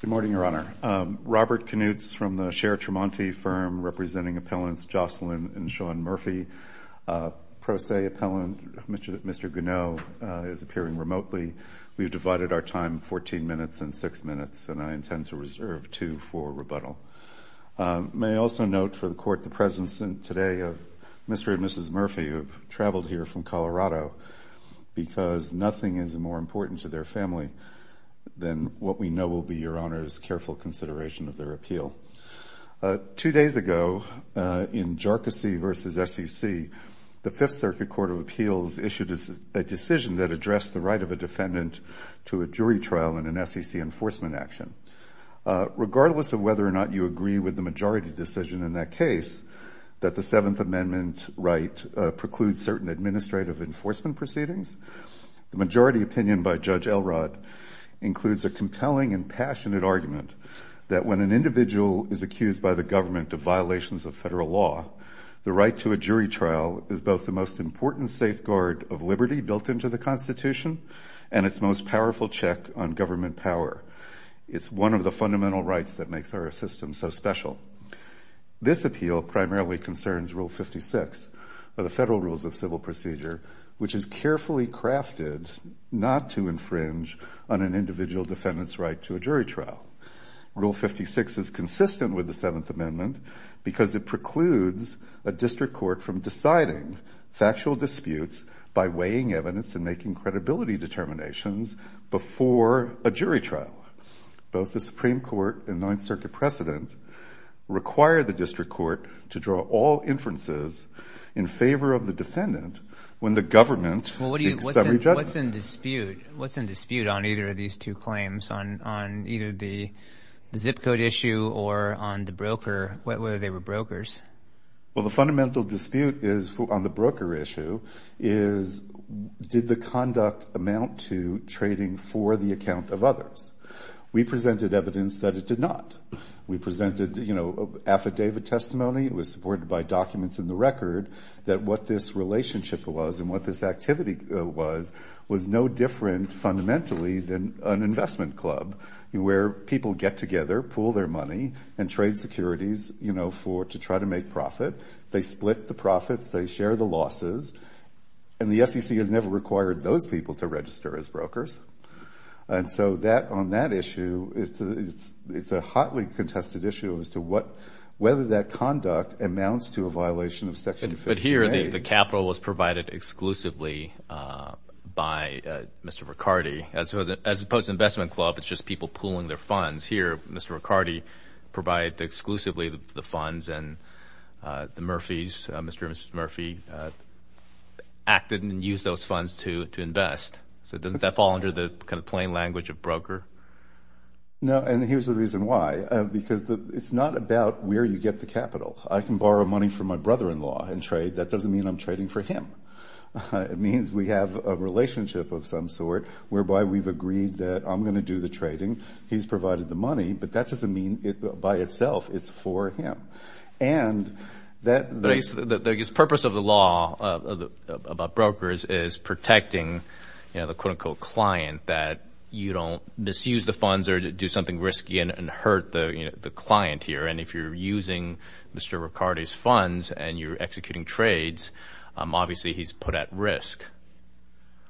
Good morning, Your Honor. Robert Knutes from the Cher Tremonti Firm, representing appellants Jocelyn and Sean Murphy. Pro se appellant, Mr. Gounod, is appearing remotely. We've divided our time 14 minutes and 6 minutes, and I intend to reserve 2 for rebuttal. May I also note for the Court the presence today of Mr. and Mrs. Murphy, who have traveled here from Colorado, because nothing is more important to their family than what we know will be Your Honor's careful consideration of their appeal. Two days ago, in Jocelyn v. SEC, the Fifth Circuit Court of Appeals issued a decision that addressed the right of a defendant to a jury trial in an SEC enforcement action. Regardless of whether or not you agree with the majority decision in that case, that the majority opinion by Judge Elrod includes a compelling and passionate argument that when an individual is accused by the government of violations of federal law, the right to a jury trial is both the most important safeguard of liberty built into the Constitution and its most powerful check on government power. It's one of the fundamental rights that makes our system so special. This appeal primarily concerns Rule 56 of the Federal Rules of Civil Procedure, which is carefully crafted not to infringe on an individual defendant's right to a jury trial. Rule 56 is consistent with the Seventh Amendment because it precludes a district court from deciding factual disputes by weighing evidence and making credibility determinations before a jury trial. Both the Supreme Court and Ninth Circuit precedent require the district court to draw all inferences in favor of the defendant when the government seeks summary judgment. Well, what's in dispute on either of these two claims, on either the zip code issue or on the broker, whether they were brokers? Well, the fundamental dispute on the broker issue is did the conduct amount to trading for the account of others? We presented evidence that it did not. We presented affidavit testimony. It was supported by documents in the record that what this relationship was and what this activity was was no different fundamentally than an investment club, where people get together, pool their money, and trade securities to try to make profit. They split the profits. They share the losses. And the SEC has never required those people to register as brokers. And so on that issue, it's a hotly contested issue as to whether that conduct amounts to a violation of Section 50A. But here, the capital was provided exclusively by Mr. Riccardi. As opposed to an investment club, it's just people pooling their funds. Here, Mr. Riccardi provided exclusively the Murphy's. Mr. and Mrs. Murphy acted and used those funds to invest. So doesn't that fall under the kind of plain language of broker? No, and here's the reason why. Because it's not about where you get the capital. I can borrow money from my brother-in-law and trade. That doesn't mean I'm trading for him. It means we have a relationship of some sort whereby we've agreed that I'm going to do the trading. He's provided the money. But that doesn't mean it by itself. It's for him. And the purpose of the law about brokers is protecting the quote-unquote client that you don't misuse the funds or do something risky and hurt the client here. And if you're using Mr. Riccardi's funds and you're executing trades, obviously he's put at risk.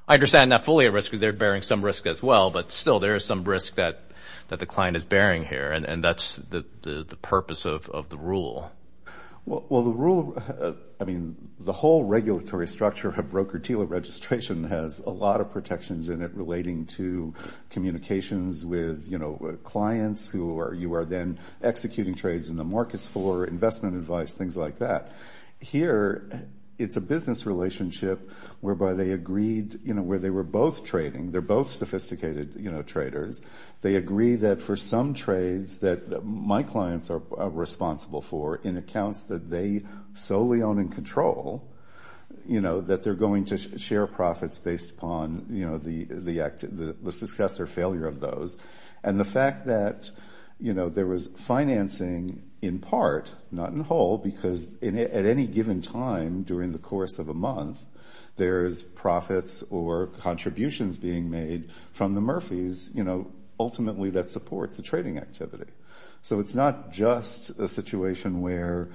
I understand not fully at risk because they're bearing some risk as well. But still, there is some risk that the client is bearing here. And that's the purpose of the rule. The whole regulatory structure of broker-dealer registration has a lot of protections in it relating to communications with clients who you are then executing trades in the markets for, investment advice, things like that. Here, it's a business relationship whereby they agreed where they were both trading. They're both sophisticated traders. They agree that for some trades that my clients are responsible for in accounts that they solely own and control, that they're going to share profits based upon the success or failure of those. And the fact that there was financing in part, not in whole, because at any given time during the course of a month, there's profits or contributions being made from the Murphys, ultimately that support the trading activity. So it's not just a situation where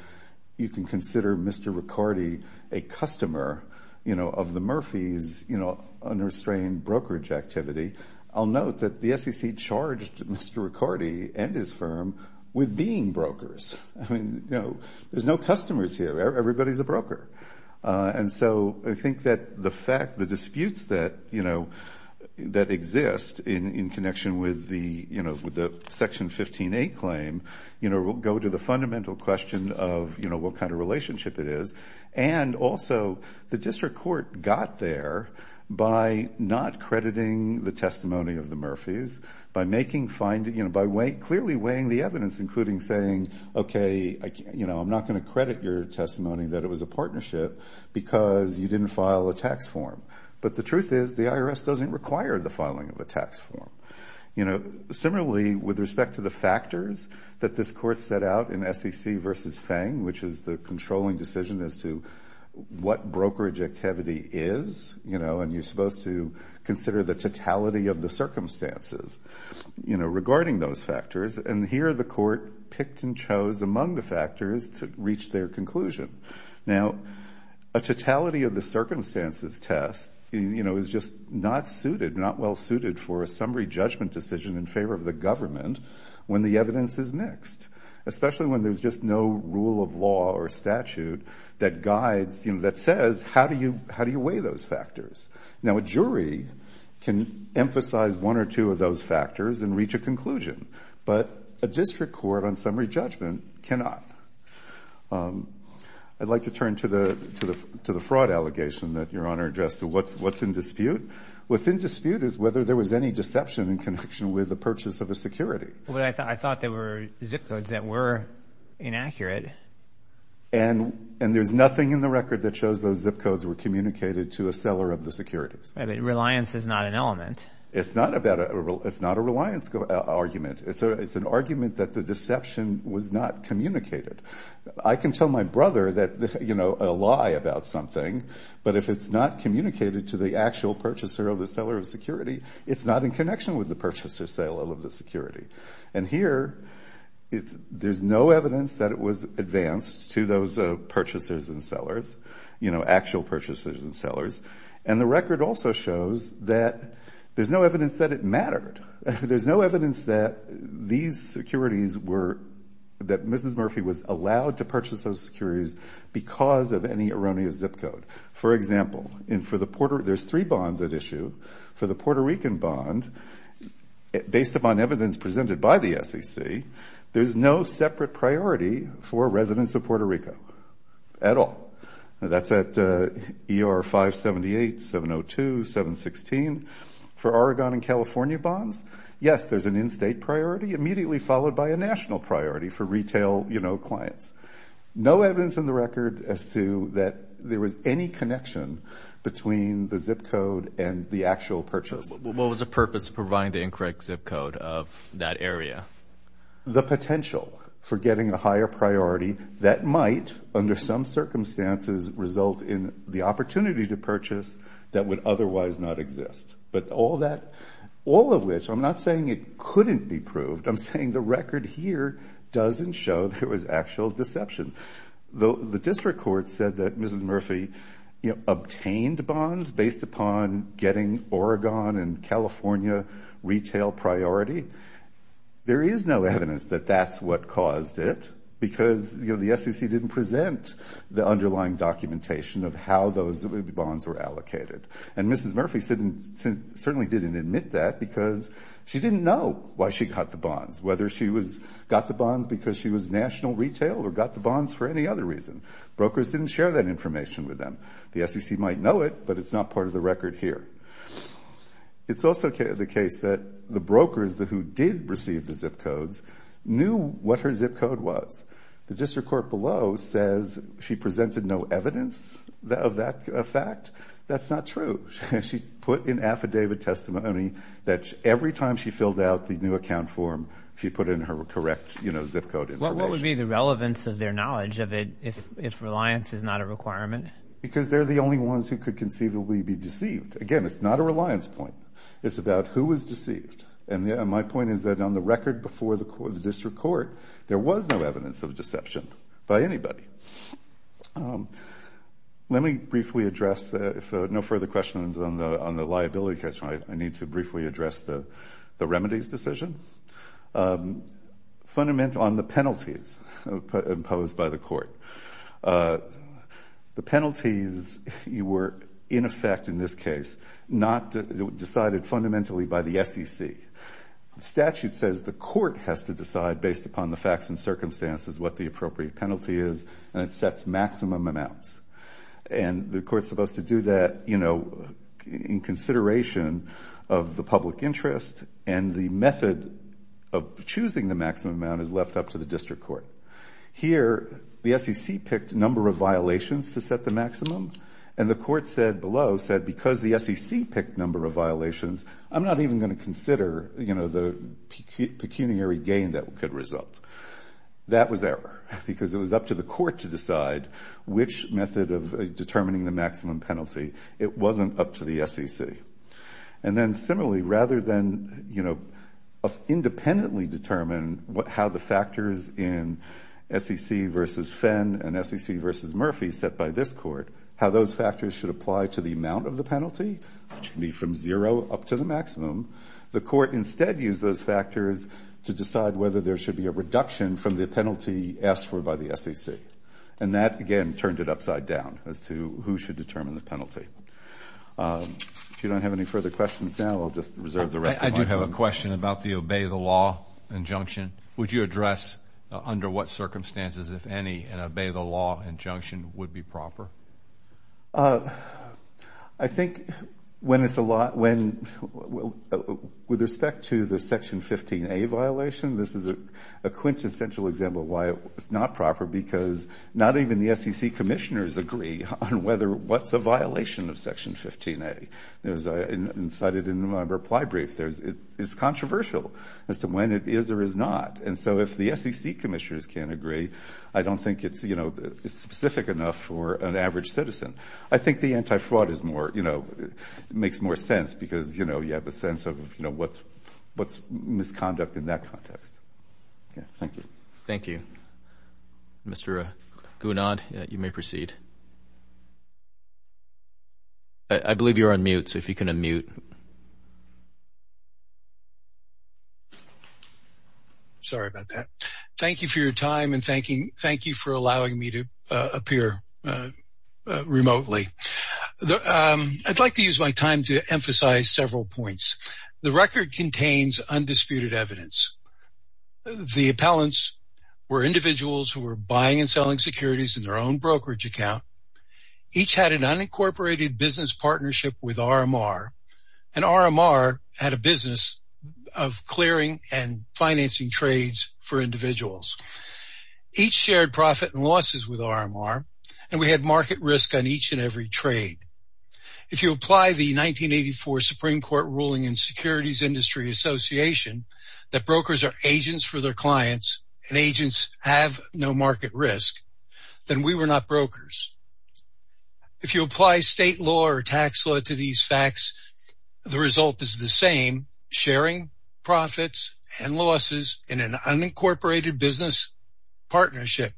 you can consider Mr. Riccardi a customer of the Murphys unrestrained brokerage activity. I'll note that the SEC charged Mr. Riccardi and his firm with being brokers. There's no and so I think that the fact, the disputes that exist in connection with the Section 15A claim will go to the fundamental question of what kind of relationship it is. And also, the district court got there by not crediting the testimony of the Murphys, by making, by clearly weighing the evidence, including saying, okay, I'm not going to credit your testimony that it was a partnership because you didn't file a tax form. But the truth is, the IRS doesn't require the filing of a tax form. Similarly, with respect to the factors that this court set out in SEC versus Feng, which is the controlling decision as to what brokerage activity is, and you're supposed to consider the totality of the circumstances regarding those factors, and here the court picked and chose among the factors to reach their conclusion. Now a totality of the circumstances test, you know, is just not suited, not well suited for a summary judgment decision in favor of the government when the evidence is mixed. Especially when there's just no rule of law or statute that guides, you know, that says, how do you weigh those factors? Now a jury can emphasize one or two of those factors and reach a conclusion, but a district court on summary judgment cannot. I'd like to turn to the fraud allegation that Your Honor addressed to what's in dispute. What's in dispute is whether there was any deception in connection with the purchase of a security. Well, I thought there were zip codes that were inaccurate. And there's nothing in the record that shows those zip codes were communicated to a seller of the securities. I mean, reliance is not an element. It's not a reliance argument. It's an argument that the deception was not communicated. I can tell my brother that, you know, a lie about something, but if it's not communicated to the actual purchaser of the seller of security, it's not in connection with the purchaser sale of the security. And here, there's no evidence that it was advanced to those purchasers and sellers, you know, actual purchasers and sellers. And the record also shows that there's no evidence that it mattered. There's no evidence that these securities were, that Mrs. Murphy was allowed to purchase those securities because of any erroneous zip code. For example, there's three bonds at issue. For the Puerto Rican bond, based upon evidence presented by the SEC, there's no separate priority for residents of Puerto Rico at all. That's at ER 578, 702, 716. For Oregon and California bonds, yes, there's an in-state priority immediately followed by a national priority for retail, you know, clients. No evidence in the record as to that there was any connection between the zip code and the actual purchase. What was the purpose of providing the incorrect zip code of that area? The potential for getting a higher priority that might, under some circumstances, result in the opportunity to purchase that would otherwise not exist. But all that, all of which, I'm not saying it couldn't be proved, I'm saying the record here doesn't show there was actual deception. The district court said that Mrs. Murphy obtained bonds based upon getting Oregon and California retail priority. There is no evidence that that's what caused it because the SEC didn't present the underlying documentation of how those bonds were allocated. And Mrs. Murphy certainly didn't admit that because she didn't know why she got the other reason. Brokers didn't share that information with them. The SEC might know it, but it's not part of the record here. It's also the case that the brokers who did receive the zip codes knew what her zip code was. The district court below says she presented no evidence of that fact. That's not true. She put in affidavit testimony that every time she filled out the new account form, she put in her correct, you know, zip code information. What would be the relevance of their knowledge of it if reliance is not a requirement? Because they're the only ones who could conceivably be deceived. Again, it's not a reliance point. It's about who was deceived. And my point is that on the record before the district court, there was no evidence of deception by anybody. Let me briefly address, if no further questions on the liability case, I need to briefly address the remedies decision. On the penalties imposed by the court, the penalties were in effect in this case, not decided fundamentally by the SEC. The statute says the court has to decide based upon the facts and circumstances what the appropriate penalty is, and it sets maximum amounts. And the court's supposed to do that, you know, in consideration of the public interest, and the method of choosing the maximum amount is left up to the district court. Here, the SEC picked number of violations to set the maximum, and the court said below, said, because the SEC picked number of violations, I'm not even going to consider, you know, the pecuniary gain that could result. That was error, because it was up to the court to decide which method of determining the maximum penalty. It wasn't up to the SEC. And then similarly, rather than, you know, independently determine how the factors in SEC versus Fenn and SEC versus Murphy set by this court, how those factors should apply to the amount of the penalty, which can be from zero up to the maximum, the court instead used those factors to decide whether there should be a reduction from the penalty asked for by the SEC. And that, again, turned it upside down as to who should determine the If you don't have any further questions now, I'll just reserve the rest of my time. I do have a question about the obey the law injunction. Would you address under what circumstances, if any, an obey the law injunction would be proper? I think when it's a lot, when, with respect to the Section 15A violation, this is a quintessential example of why it's not proper, because not even the SEC commissioners agree on whether what's a violation of Section 15A. As I incited in my reply brief, it's controversial as to when it is or is not. And so if the SEC commissioners can't agree, I don't think it's, you know, it's specific enough for an average citizen. I think the anti-fraud is more, you know, makes more sense because, you know, you have a sense of, you know, what's misconduct in that context. Thank you. Thank you. Mr. Gounod, you may proceed. I believe you're on mute, so if you can unmute. Sorry about that. Thank you for your time and thanking, thank you for allowing me to appear remotely. I'd like to use my time to emphasize several points. The record contains undisputed evidence. The appellants were individuals who were buying and selling securities in their own brokerage account. Each had an unincorporated business partnership with RMR, and RMR had a business of clearing and financing trades for individuals. Each shared profit and losses with RMR, and we had market risk on each and every trade. If you apply the 1984 Supreme Court ruling in Securities Industry Association that brokers are agents for their clients and agents have no market risk, then we were not brokers. If you apply state law or tax law to these facts, the result is the same, sharing profits and losses in an unincorporated business partnership,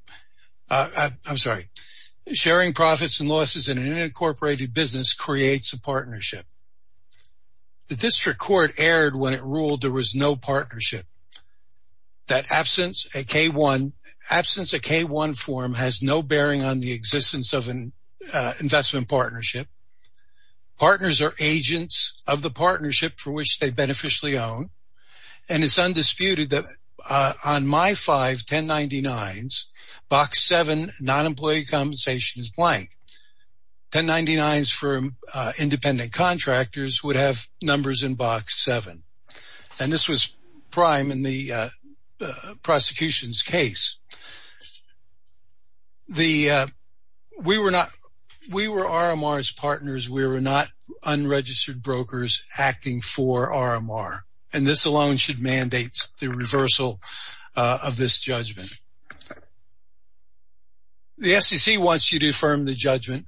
I'm sorry, sharing profits and losses in an unincorporated business creates a partnership. The district court erred when it ruled there was no partnership. That absence a K-1, absence a K-1 form has no bearing on the existence of an investment partnership. Partners are agents of the partnership for which they beneficially own, and it's undisputed that on my five 1099s, box seven, non-employee compensation is blank. 1099s for individual independent contractors would have numbers in box seven, and this was prime in the prosecution's case. We were RMR's partners. We were not unregistered brokers acting for RMR, and this alone should mandate the reversal of this judgment. The SEC wants you to affirm the fact that the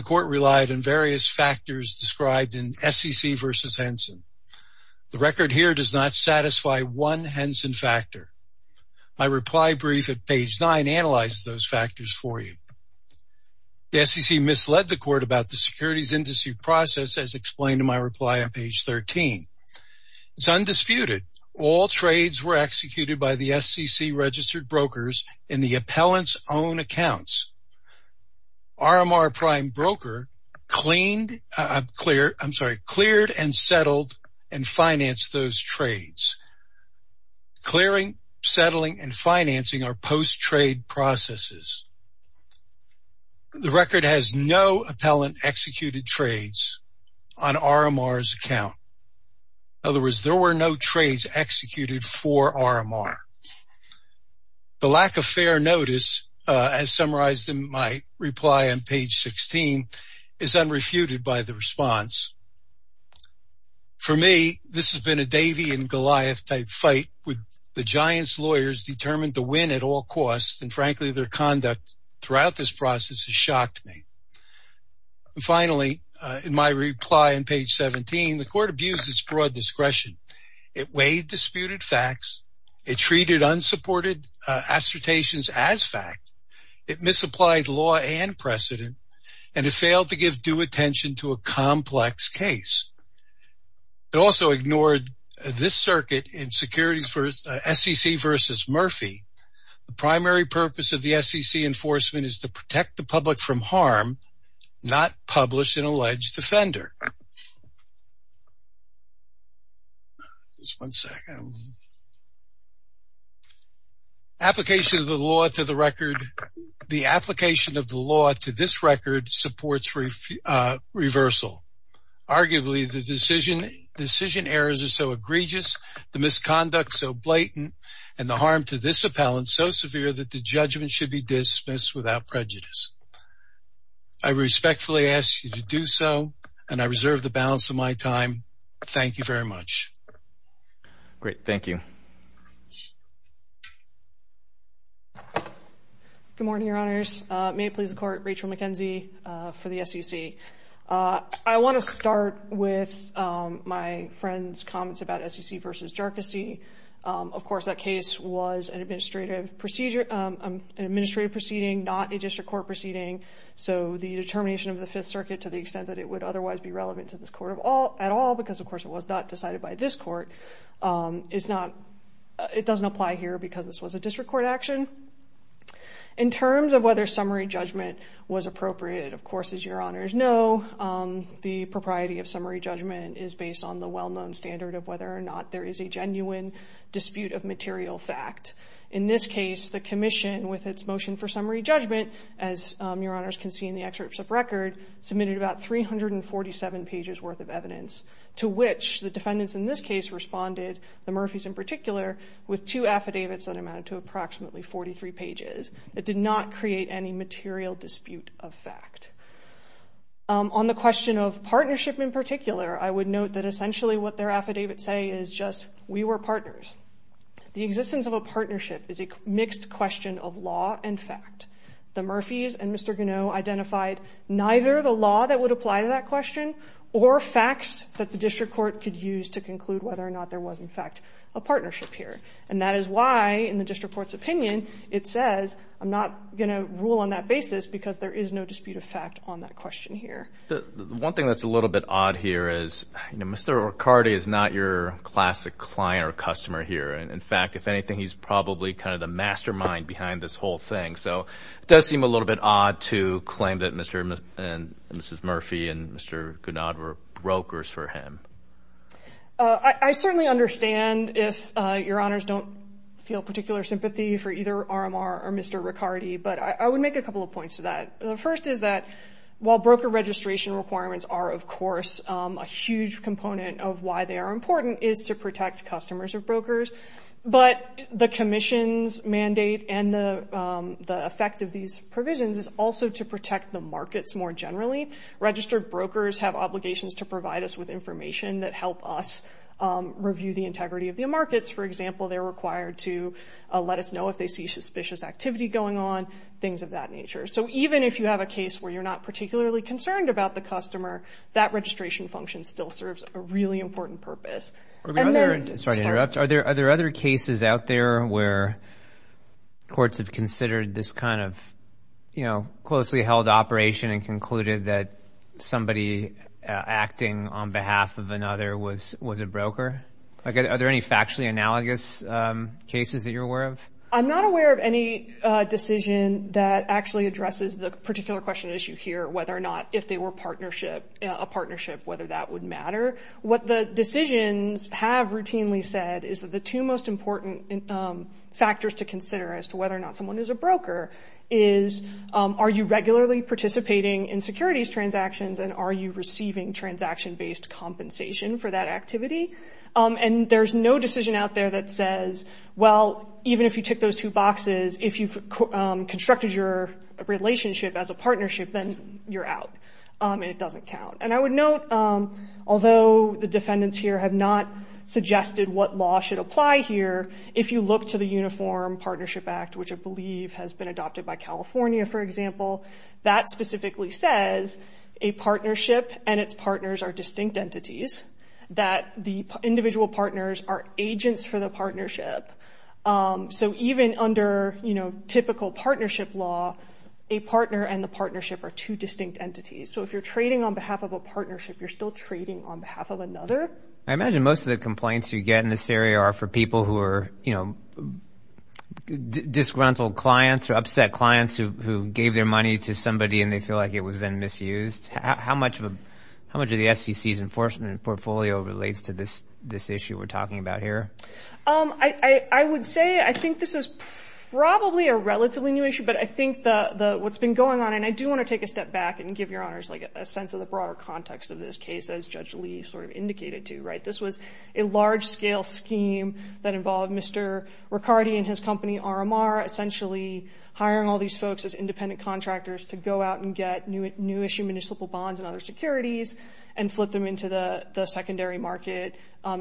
court relied on various factors described in SEC versus Henson. The record here does not satisfy one Henson factor. My reply brief at page nine analyzes those factors for you. The SEC misled the court about the securities industry process as explained in my reply on page 13. It's undisputed. All trades were executed by the SEC registered brokers in the appellant's own accounts. RMR prime broker cleared and settled and financed those trades. Clearing, settling, and financing are post-trade processes. The record has no appellant executed trades on RMR's account. In other words, there were no trades executed for RMR. The lack of fair notice, as summarized in my reply on page 16, is unrefuted by the Davey and Goliath type fight with the giant's lawyers determined to win at all costs, and frankly, their conduct throughout this process has shocked me. Finally, in my reply on page 17, the court abused its broad discretion. It weighed disputed facts. It treated unsupported assertions as fact. It misapplied law and precedent, and it failed to give due attention to a complex case. It also ignored this circuit in SEC versus Murphy. The primary purpose of the SEC enforcement is to protect the public from harm, not publish an alleged offender. Just one second. Application of the law to the record, the application of the law to this record supports reversal. Arguably, the decision errors are so egregious, the misconduct so blatant, and the harm to this appellant so severe that the judgment should be dismissed without prejudice. I respectfully ask you to do so, and I reserve the balance of my time. Thank you very much. Great. Thank you. Good morning, Your Honors. May it please the court, Rachel McKenzie for the SEC. I want to start with my friend's comments about SEC versus Jerkisee. Of course, that case was an administrative proceeding, not a district court proceeding, so the determination of the Fifth Circuit to the extent that it would otherwise be relevant to this court at all, because of course it was not decided by this court, it doesn't apply here because this was a district court action. In terms of whether summary judgment was appropriate, of course, as Your Honors know, the propriety of summary judgment is the open standard of whether or not there is a genuine dispute of material fact. In this case, the commission, with its motion for summary judgment, as Your Honors can see in the excerpts of record, submitted about 347 pages worth of evidence, to which the defendants in this case responded, the Murphys in particular, with two affidavits that amounted to approximately 43 pages. It did not create any material dispute of fact. On the question of partnership in particular, I would note that essentially what their affidavits say is just, we were partners. The existence of a partnership is a mixed question of law and fact. The Murphys and Mr. Gonneau identified neither the law that would apply to that question or facts that the district court could use to conclude whether or not there was, in fact, a partnership here. And that is why, in the district court's opinion, it says, I'm not going to rule on that basis because there is no dispute of fact on that question here. One thing that's a little bit odd here is Mr. Riccardi is not your classic client or customer here. In fact, if anything, he's probably kind of the mastermind behind this whole thing. So it does seem a little bit odd to claim that Mr. and Mrs. Murphy and Mr. Gonneau were brokers for him. I certainly understand if Your Honors don't feel particular sympathy for either RMR or Mr. Riccardi, but I would make a couple of points to that. The first is that while broker registration requirements are, of course, a huge component of why they are important is to protect customers of brokers, but the commission's mandate and the effect of these provisions is also to protect the markets more generally. Registered brokers have obligations to provide us with information that help us review the integrity of the markets. For example, they're required to let us know if they see suspicious activity going on, things of that nature. So even if you have a case where you're not particularly concerned about the customer, that registration function still serves a really important purpose. Sorry to interrupt. Are there other cases out there where courts have considered this kind of, you know, closely held operation and concluded that somebody acting on behalf of another was a broker? Are there any factually analogous cases that you're aware of? I'm not aware of any decision that actually addresses the particular question issue here, whether or not if they were a partnership, whether that would matter. What the decisions have routinely said is that the two most important factors to consider as to whether or not someone is a broker is, are you regularly participating in securities transactions and are you receiving transaction-based compensation for that activity? And there's no decision out there that says, well, even if you tick those two boxes, if you've constructed your relationship as a partnership, then you're out and it doesn't count. And I would note, although the defendants here have not suggested what law should apply here, if you look to the Uniform Partnership Act, which I believe has been adopted by California, for example, that specifically says a partnership and its partners are distinct entities, that the individual partners are agents for the partnership. So even under, you know, typical partnership law, a partner and the partnership are two distinct entities. So if you're trading on behalf of a partnership, you're still trading on behalf of another. I imagine most of the complaints you get in this area are for people who are, you know, disgruntled clients or upset clients who gave their money to somebody and they feel like it was then misused. How much of the SEC's enforcement portfolio relates to this issue we're talking about here? I would say I think this is probably a relatively new issue, but I think what's been going on, and I do want to take a step back and give your honors like a sense of the broader context of this case, as Judge Lee sort of indicated to, right? This was a large-scale scheme that involved Mr. Riccardi and his company, RMR, essentially hiring all these folks as independent contractors to go out and get new issue municipal bonds and other securities and flip them into the secondary market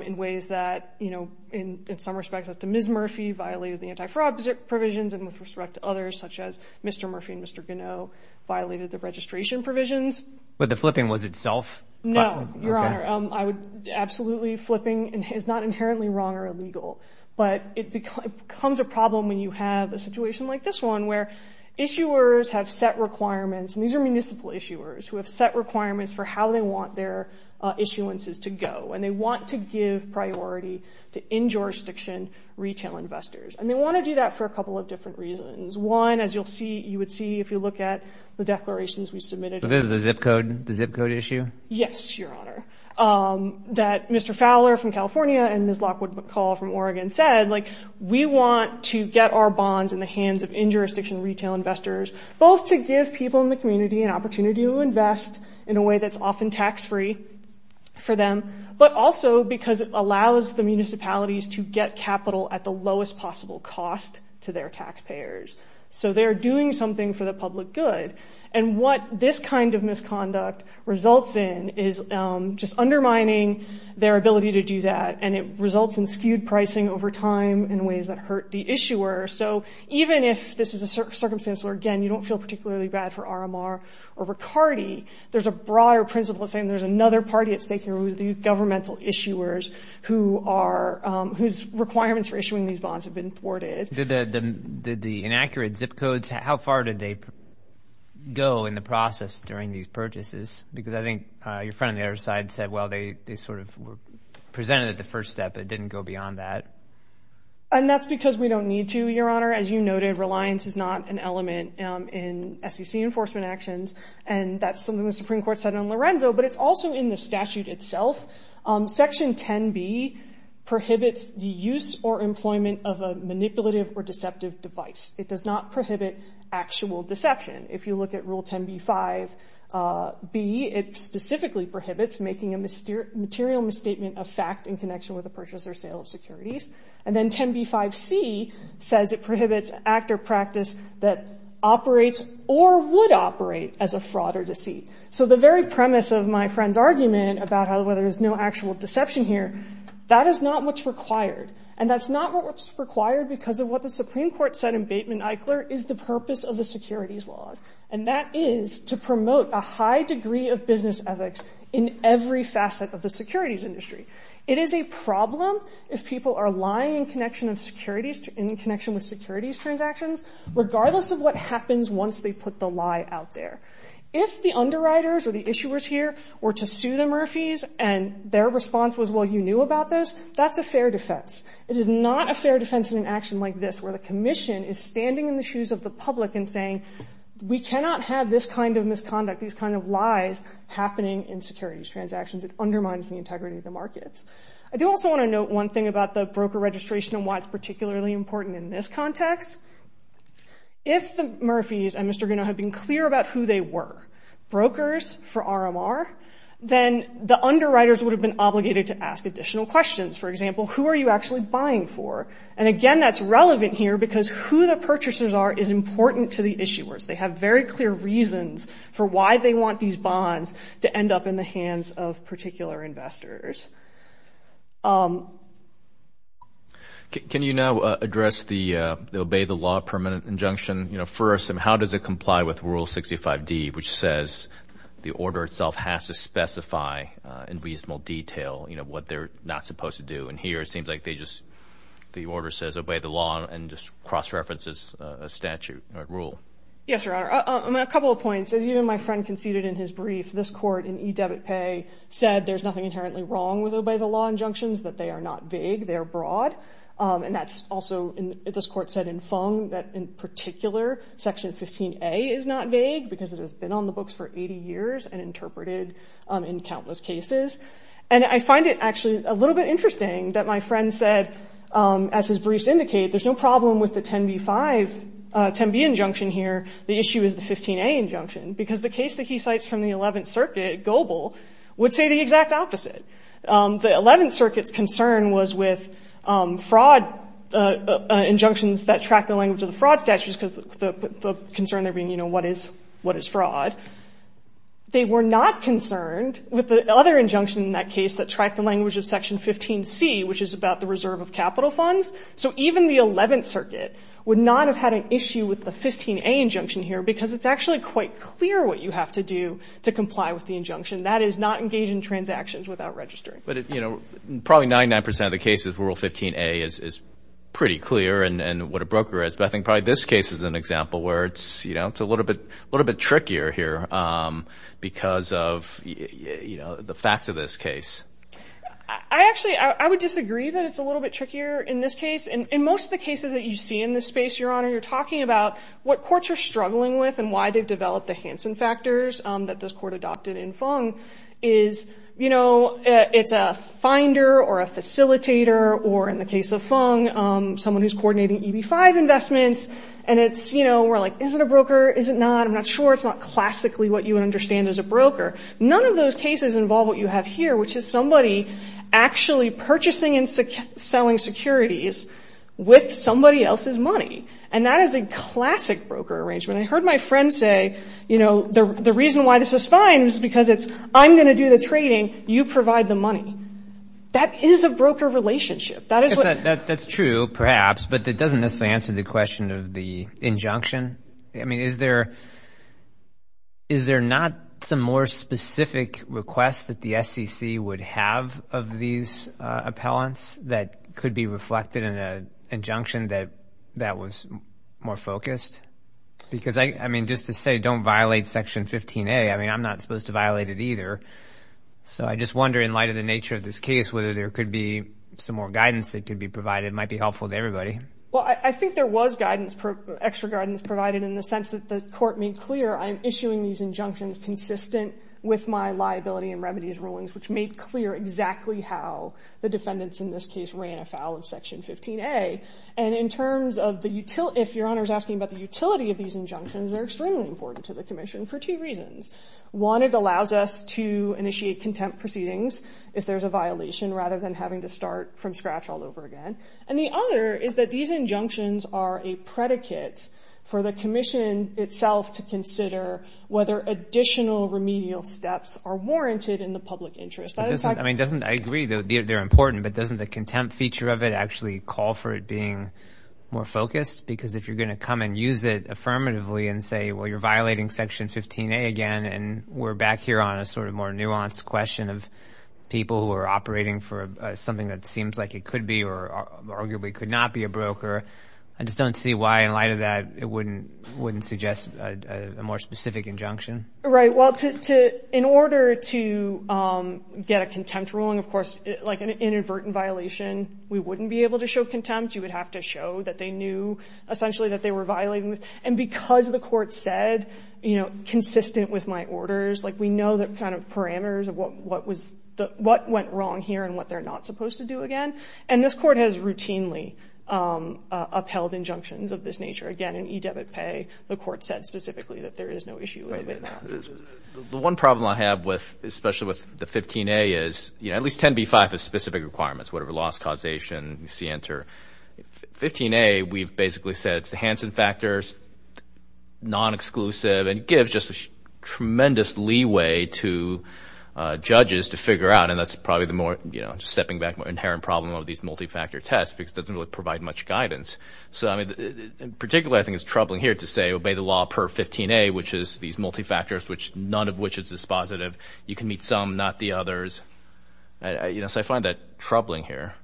in ways that, you know, in some respects, as to Ms. Murphy violated the anti-fraud provisions and with respect to others such as Mr. Murphy and Mr. Gineau violated the registration provisions. But the flipping was itself? No, your honor. I would absolutely flipping is not inherently wrong or illegal, but it becomes a problem when you have a situation like this one where issuers have set requirements, and these are municipal issuers, who have set requirements for how they want their issuances to go, and they want to give priority to in-jurisdiction retail investors. And they want to do that for a couple of different reasons. One, as you'll see, you would see if you look at the declarations we submitted. But this is the zip code, the zip code issue? Yes, your honor. That Mr. Fowler from California and Ms. Lockwood McCall from Oregon said, like, we want to get our bonds in the hands of in-jurisdiction retail investors, both to give people in the community an opportunity to invest in a way that's often tax-free for them, but also because it allows the municipalities to get capital at the lowest possible cost to their taxpayers. So they're doing something for the public good. And what this kind of misconduct results in is just undermining their ability to do that, and it results in skewed pricing over time in ways that hurt the issuer. So even if this is a circumstance where, again, you don't feel particularly bad for RMR or Riccardi, there's a broader principle of saying there's another party at stake here, the governmental issuers, whose requirements for issuing these bonds have been thwarted. The inaccurate zip codes, how far did they go in the process during these purchases? Because I think your friend on the other side said, well, they sort of were presented at the first step. It didn't go beyond that. And that's because we don't need to, Your Honor. As you noted, reliance is not an element in SEC enforcement actions, and that's something the Supreme Court said in Lorenzo, but it's also in the statute itself. Section 10b prohibits the use or employment of a manipulative or deceptive device. It does not prohibit actual deception. If you look at Rule 10b-5b, it prohibits manipulation with the purchase or sale of securities. And then 10b-5c says it prohibits act or practice that operates or would operate as a fraud or deceit. So the very premise of my friend's argument about whether there's no actual deception here, that is not what's required. And that's not what's required because of what the Supreme Court said in Bateman-Eichler is the purpose of the securities laws, and that is to promote a high degree of business ethics in every facet of the securities industry. It is a problem if people are lying in connection with securities transactions, regardless of what happens once they put the lie out there. If the underwriters or the issuers here were to sue the Murphys and their response was, well, you knew about this, that's a fair defense. It is not a fair defense in an action like this, where the commission is standing in the shoes of the public and saying, we cannot have this kind of misconduct, these kind of lies happening in securities transactions. It undermines the integrity of the markets. I do also want to note one thing about the broker registration and why it's particularly important in this context. If the Murphys and Mr. Gunna have been clear about who they were, brokers for RMR, then the underwriters would have been obligated to ask additional questions. For example, who are you actually buying for? And again, that's relevant here because who the purchasers are is important to the issuers. They have very clear reasons for why they want these bonds to end up in the hands of particular investors. Can you now address the obey the law permanent injunction? First, how does it comply with Rule 65D, which says the order itself has to specify in reasonable detail what they're not supposed to do? And here, it seems like they just, the order says obey the law and just cross-references a statute, a rule. Yes, Your Honor. A couple of points. As you and my friend conceded in his brief, this court in e-debit pay said there's nothing inherently wrong with obey the law injunctions, that they are not vague, they're broad. And that's also, this court said in Fung that in particular, Section 15A is not vague because it has been on the books for 80 years and I find it actually a little bit interesting that my friend said, as his briefs indicate, there's no problem with the 10B injunction here, the issue is the 15A injunction, because the case that he cites from the Eleventh Circuit, Goebel, would say the exact opposite. The Eleventh Circuit's concern was with fraud injunctions that track the language of the fraud statutes because the concern there being, you know, what is fraud? They were not concerned with the other injunction in that case that tracked the language of Section 15C, which is about the reserve of capital funds. So even the Eleventh Circuit would not have had an issue with the 15A injunction here because it's actually quite clear what you have to do to comply with the injunction, that is not engage in transactions without registering. But, you know, probably 99% of the cases, Rule 15A is pretty clear and what a broker is. But I think probably this case is an example where it's, you know, it's a little bit trickier here because of, you know, the facts of this case. I actually, I would disagree that it's a little bit trickier in this case. In most of the cases that you see in this space, Your Honor, you're talking about what courts are struggling with and why they've developed the Hansen factors that this court adopted in Fung is, you know, it's a finder or a facilitator or, in the case of Fung, someone who's coordinating EB-5 investments and it's, you know, we're like, is it a broker? Is it not? I'm not sure. It's not classically what you would understand as a broker. None of those cases involve what you have here, which is somebody actually purchasing and selling securities with somebody else's money. And that is a classic broker arrangement. I heard my friend say, you know, the reason why this is fine is because it's, I'm going to do the trading, you provide the money. That is a broker relationship. That is what — That's true, perhaps, but it doesn't necessarily answer the question of the injunction. I mean, is there not some more specific request that the SEC would have of these appellants that could be reflected in an injunction that was more focused? Because, I mean, just to say don't violate Section 15A, I mean, I'm not supposed to violate it either. So I just wonder in light of the nature of this case whether there could be some more guidance that could Well, I think there was guidance, extra guidance provided in the sense that the Court made clear I'm issuing these injunctions consistent with my liability and remedies rulings, which made clear exactly how the defendants in this case ran afoul of Section 15A. And in terms of the utility — if Your Honor is asking about the utility of these injunctions, they're extremely important to the Commission for two reasons. One, it allows us to initiate contempt proceedings if there's a violation rather than having to start from scratch all over again. And the other is that these injunctions are a predicate for the Commission itself to consider whether additional remedial steps are warranted in the public interest. I mean, doesn't — I agree, though, they're important, but doesn't the contempt feature of it actually call for it being more focused? Because if you're going to come and use it affirmatively and say, well, you're violating Section 15A again, and we're back here on a sort of more nuanced question of people who are operating for something that seems like it could be or arguably could not be a broker, I just don't see why in light of that it wouldn't suggest a more specific injunction. Right. Well, to — in order to get a contempt ruling, of course, like an inadvertent violation, we wouldn't be able to show contempt. You would have to show that they knew essentially that they were violating. And because the Court said, you know, consistent with my orders, like we know the kind of parameters of what was — what went wrong here and what they're not supposed to do again. And this Court has routinely upheld injunctions of this nature. Again, in e-debit pay, the Court said specifically that there is no issue with that. The one problem I have with — especially with the 15A is, you know, at least 10b-5 is specific requirements, whatever loss, causation, you see enter. 15A, we've basically said it's the Hansen factors, non-exclusive, and gives just a tremendous leeway to judges to step back from an inherent problem of these multi-factor tests because it doesn't really provide much guidance. So, I mean, particularly I think it's troubling here to say obey the law per 15A, which is these multi-factors, which none of which is dispositive. You can meet some, not the others. You know, so I find that troubling here.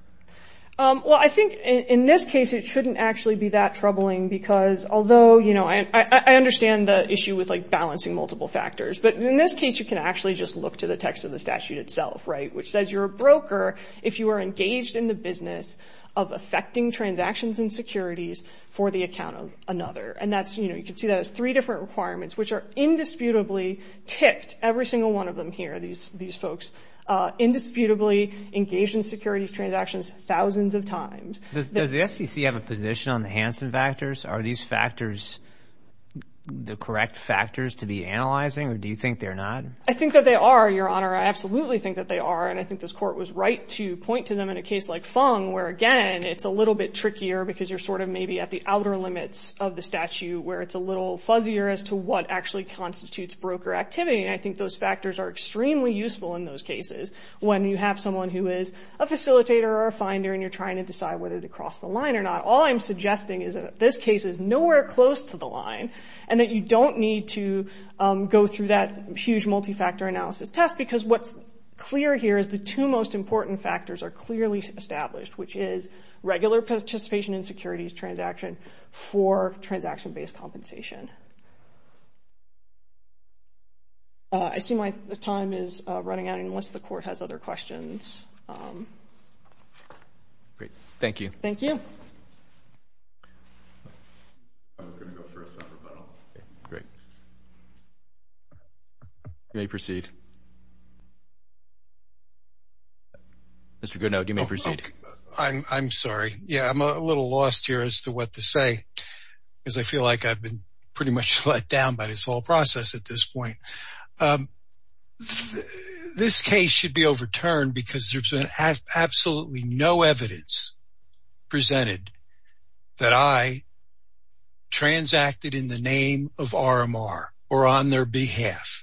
Well, I think in this case it shouldn't actually be that troubling because although, you know, I understand the issue with like balancing multiple factors. But in this case, you can actually just look to the text of the statute itself, right, which says you're a broker if you are engaged in the business of effecting transactions and securities for the account of another. And that's, you know, you can see that as three different requirements, which are indisputably ticked, every single one of them here, these folks, indisputably engaged in securities transactions thousands of times. Does the SEC have a position on the Hansen factors? Are these factors the correct factors to be analyzing, or do you think they're not? I think that they are, Your Honor. I absolutely think that they are. And I think this Court was right to point to them in a case like Fung where, again, it's a little bit trickier because you're sort of maybe at the outer limits of the statute where it's a little fuzzier as to what actually constitutes broker activity. And I think those factors are extremely useful in those cases when you have someone who is a facilitator or a finder and you're trying to decide whether to cross the line or not. All I'm suggesting is that this case is nowhere close to the line and that you don't need to go through that huge multi-factor analysis test, because what's clear here is the two most important factors are clearly established, which is regular participation in securities transaction for transaction-based compensation. I see my time is running out, and unless the Court has other questions. Great. Thank you. Thank you. Great. You may proceed. Mr. Goodenow, you may proceed. I'm sorry. Yeah, I'm a little lost here as to what to say, because I feel like I've been pretty much let down by this whole process at this point. This case should be overturned because there's been absolutely no evidence presented that I transacted in the name of RMR or on their behalf.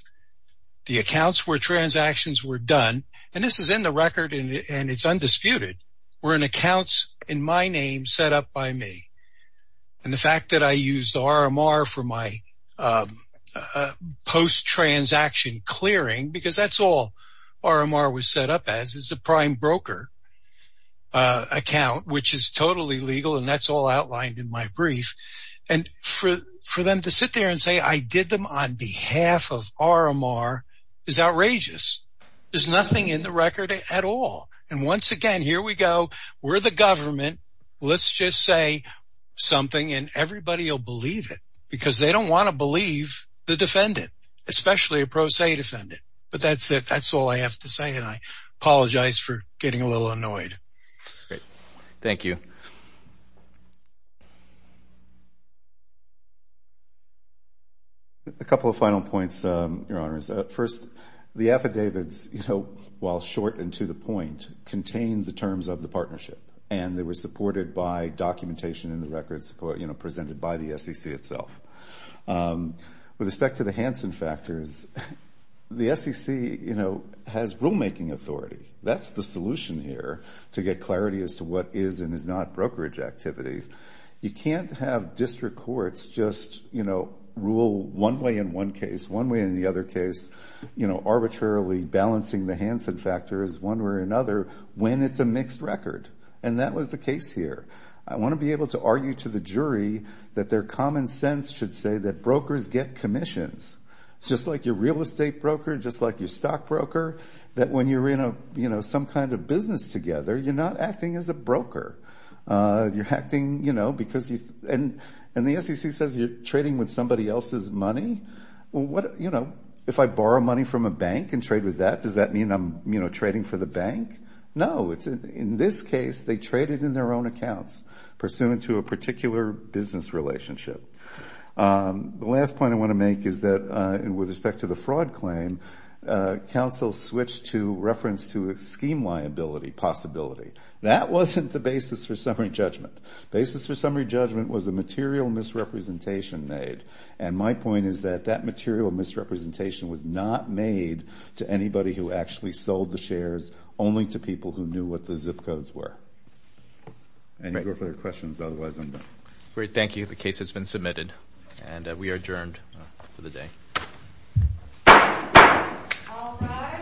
The accounts where transactions were done, and this is in the record and it's undisputed, were in accounts in my name set up by me. And the fact that I used RMR for my post-transaction clearing, because that's all RMR was set up as, is a prime broker account, which is totally legal, and that's all outlined in my brief. And for them to sit there and say I did them on behalf of RMR is outrageous. There's nothing in the record at all. And once again, here we go. We're the government. Let's just say something and everybody will believe it, because they don't want to believe the defendant, especially a pro se defendant. But that's it. That's all I have to say. And I apologize for getting a little annoyed. Great. Thank you. A couple of final points, Your Honors. First, the affidavits, you know, while short and to the point, contain the terms of the partnership. And they were supported by documentation in the records presented by the SEC itself. With respect to the Hansen factors, the SEC, you know, has rulemaking authority. That's the solution here to get clarity as to what is and is not brokerage activities. You can't have district courts just, you know, rule one way in one case, one way in the other case, you know, arbitrarily balancing the Hansen factors one way or another when it's a mixed record. And that was the case here. I want to be able to argue to the jury that their common sense should say that brokers get commissions. It's just like your real estate broker, just like your stock broker, that when you're in a, you know, some kind of business together, you're not acting as a broker. You're acting, you know, because you, and the SEC says you're trading with somebody else's money. Well, what, you know, if I borrow money from a bank and trade with that, does that mean I'm, you know, trading for the bank? No. In this case, they traded in their own accounts pursuant to a particular business relationship. The last point I want to make is that with respect to the fraud claim, counsel switched to reference to a scheme liability possibility. That wasn't the basis for summary judgment. Basis for summary judgment was the material misrepresentation made. And my point is that that material misrepresentation was not made to anybody who actually sold the shares, only to people who knew what the zip codes were. Any further questions? Otherwise, I'm done. Great. Thank you. The case has been submitted, and we are adjourned for the day. All rise. Court is in session. Session adjourned.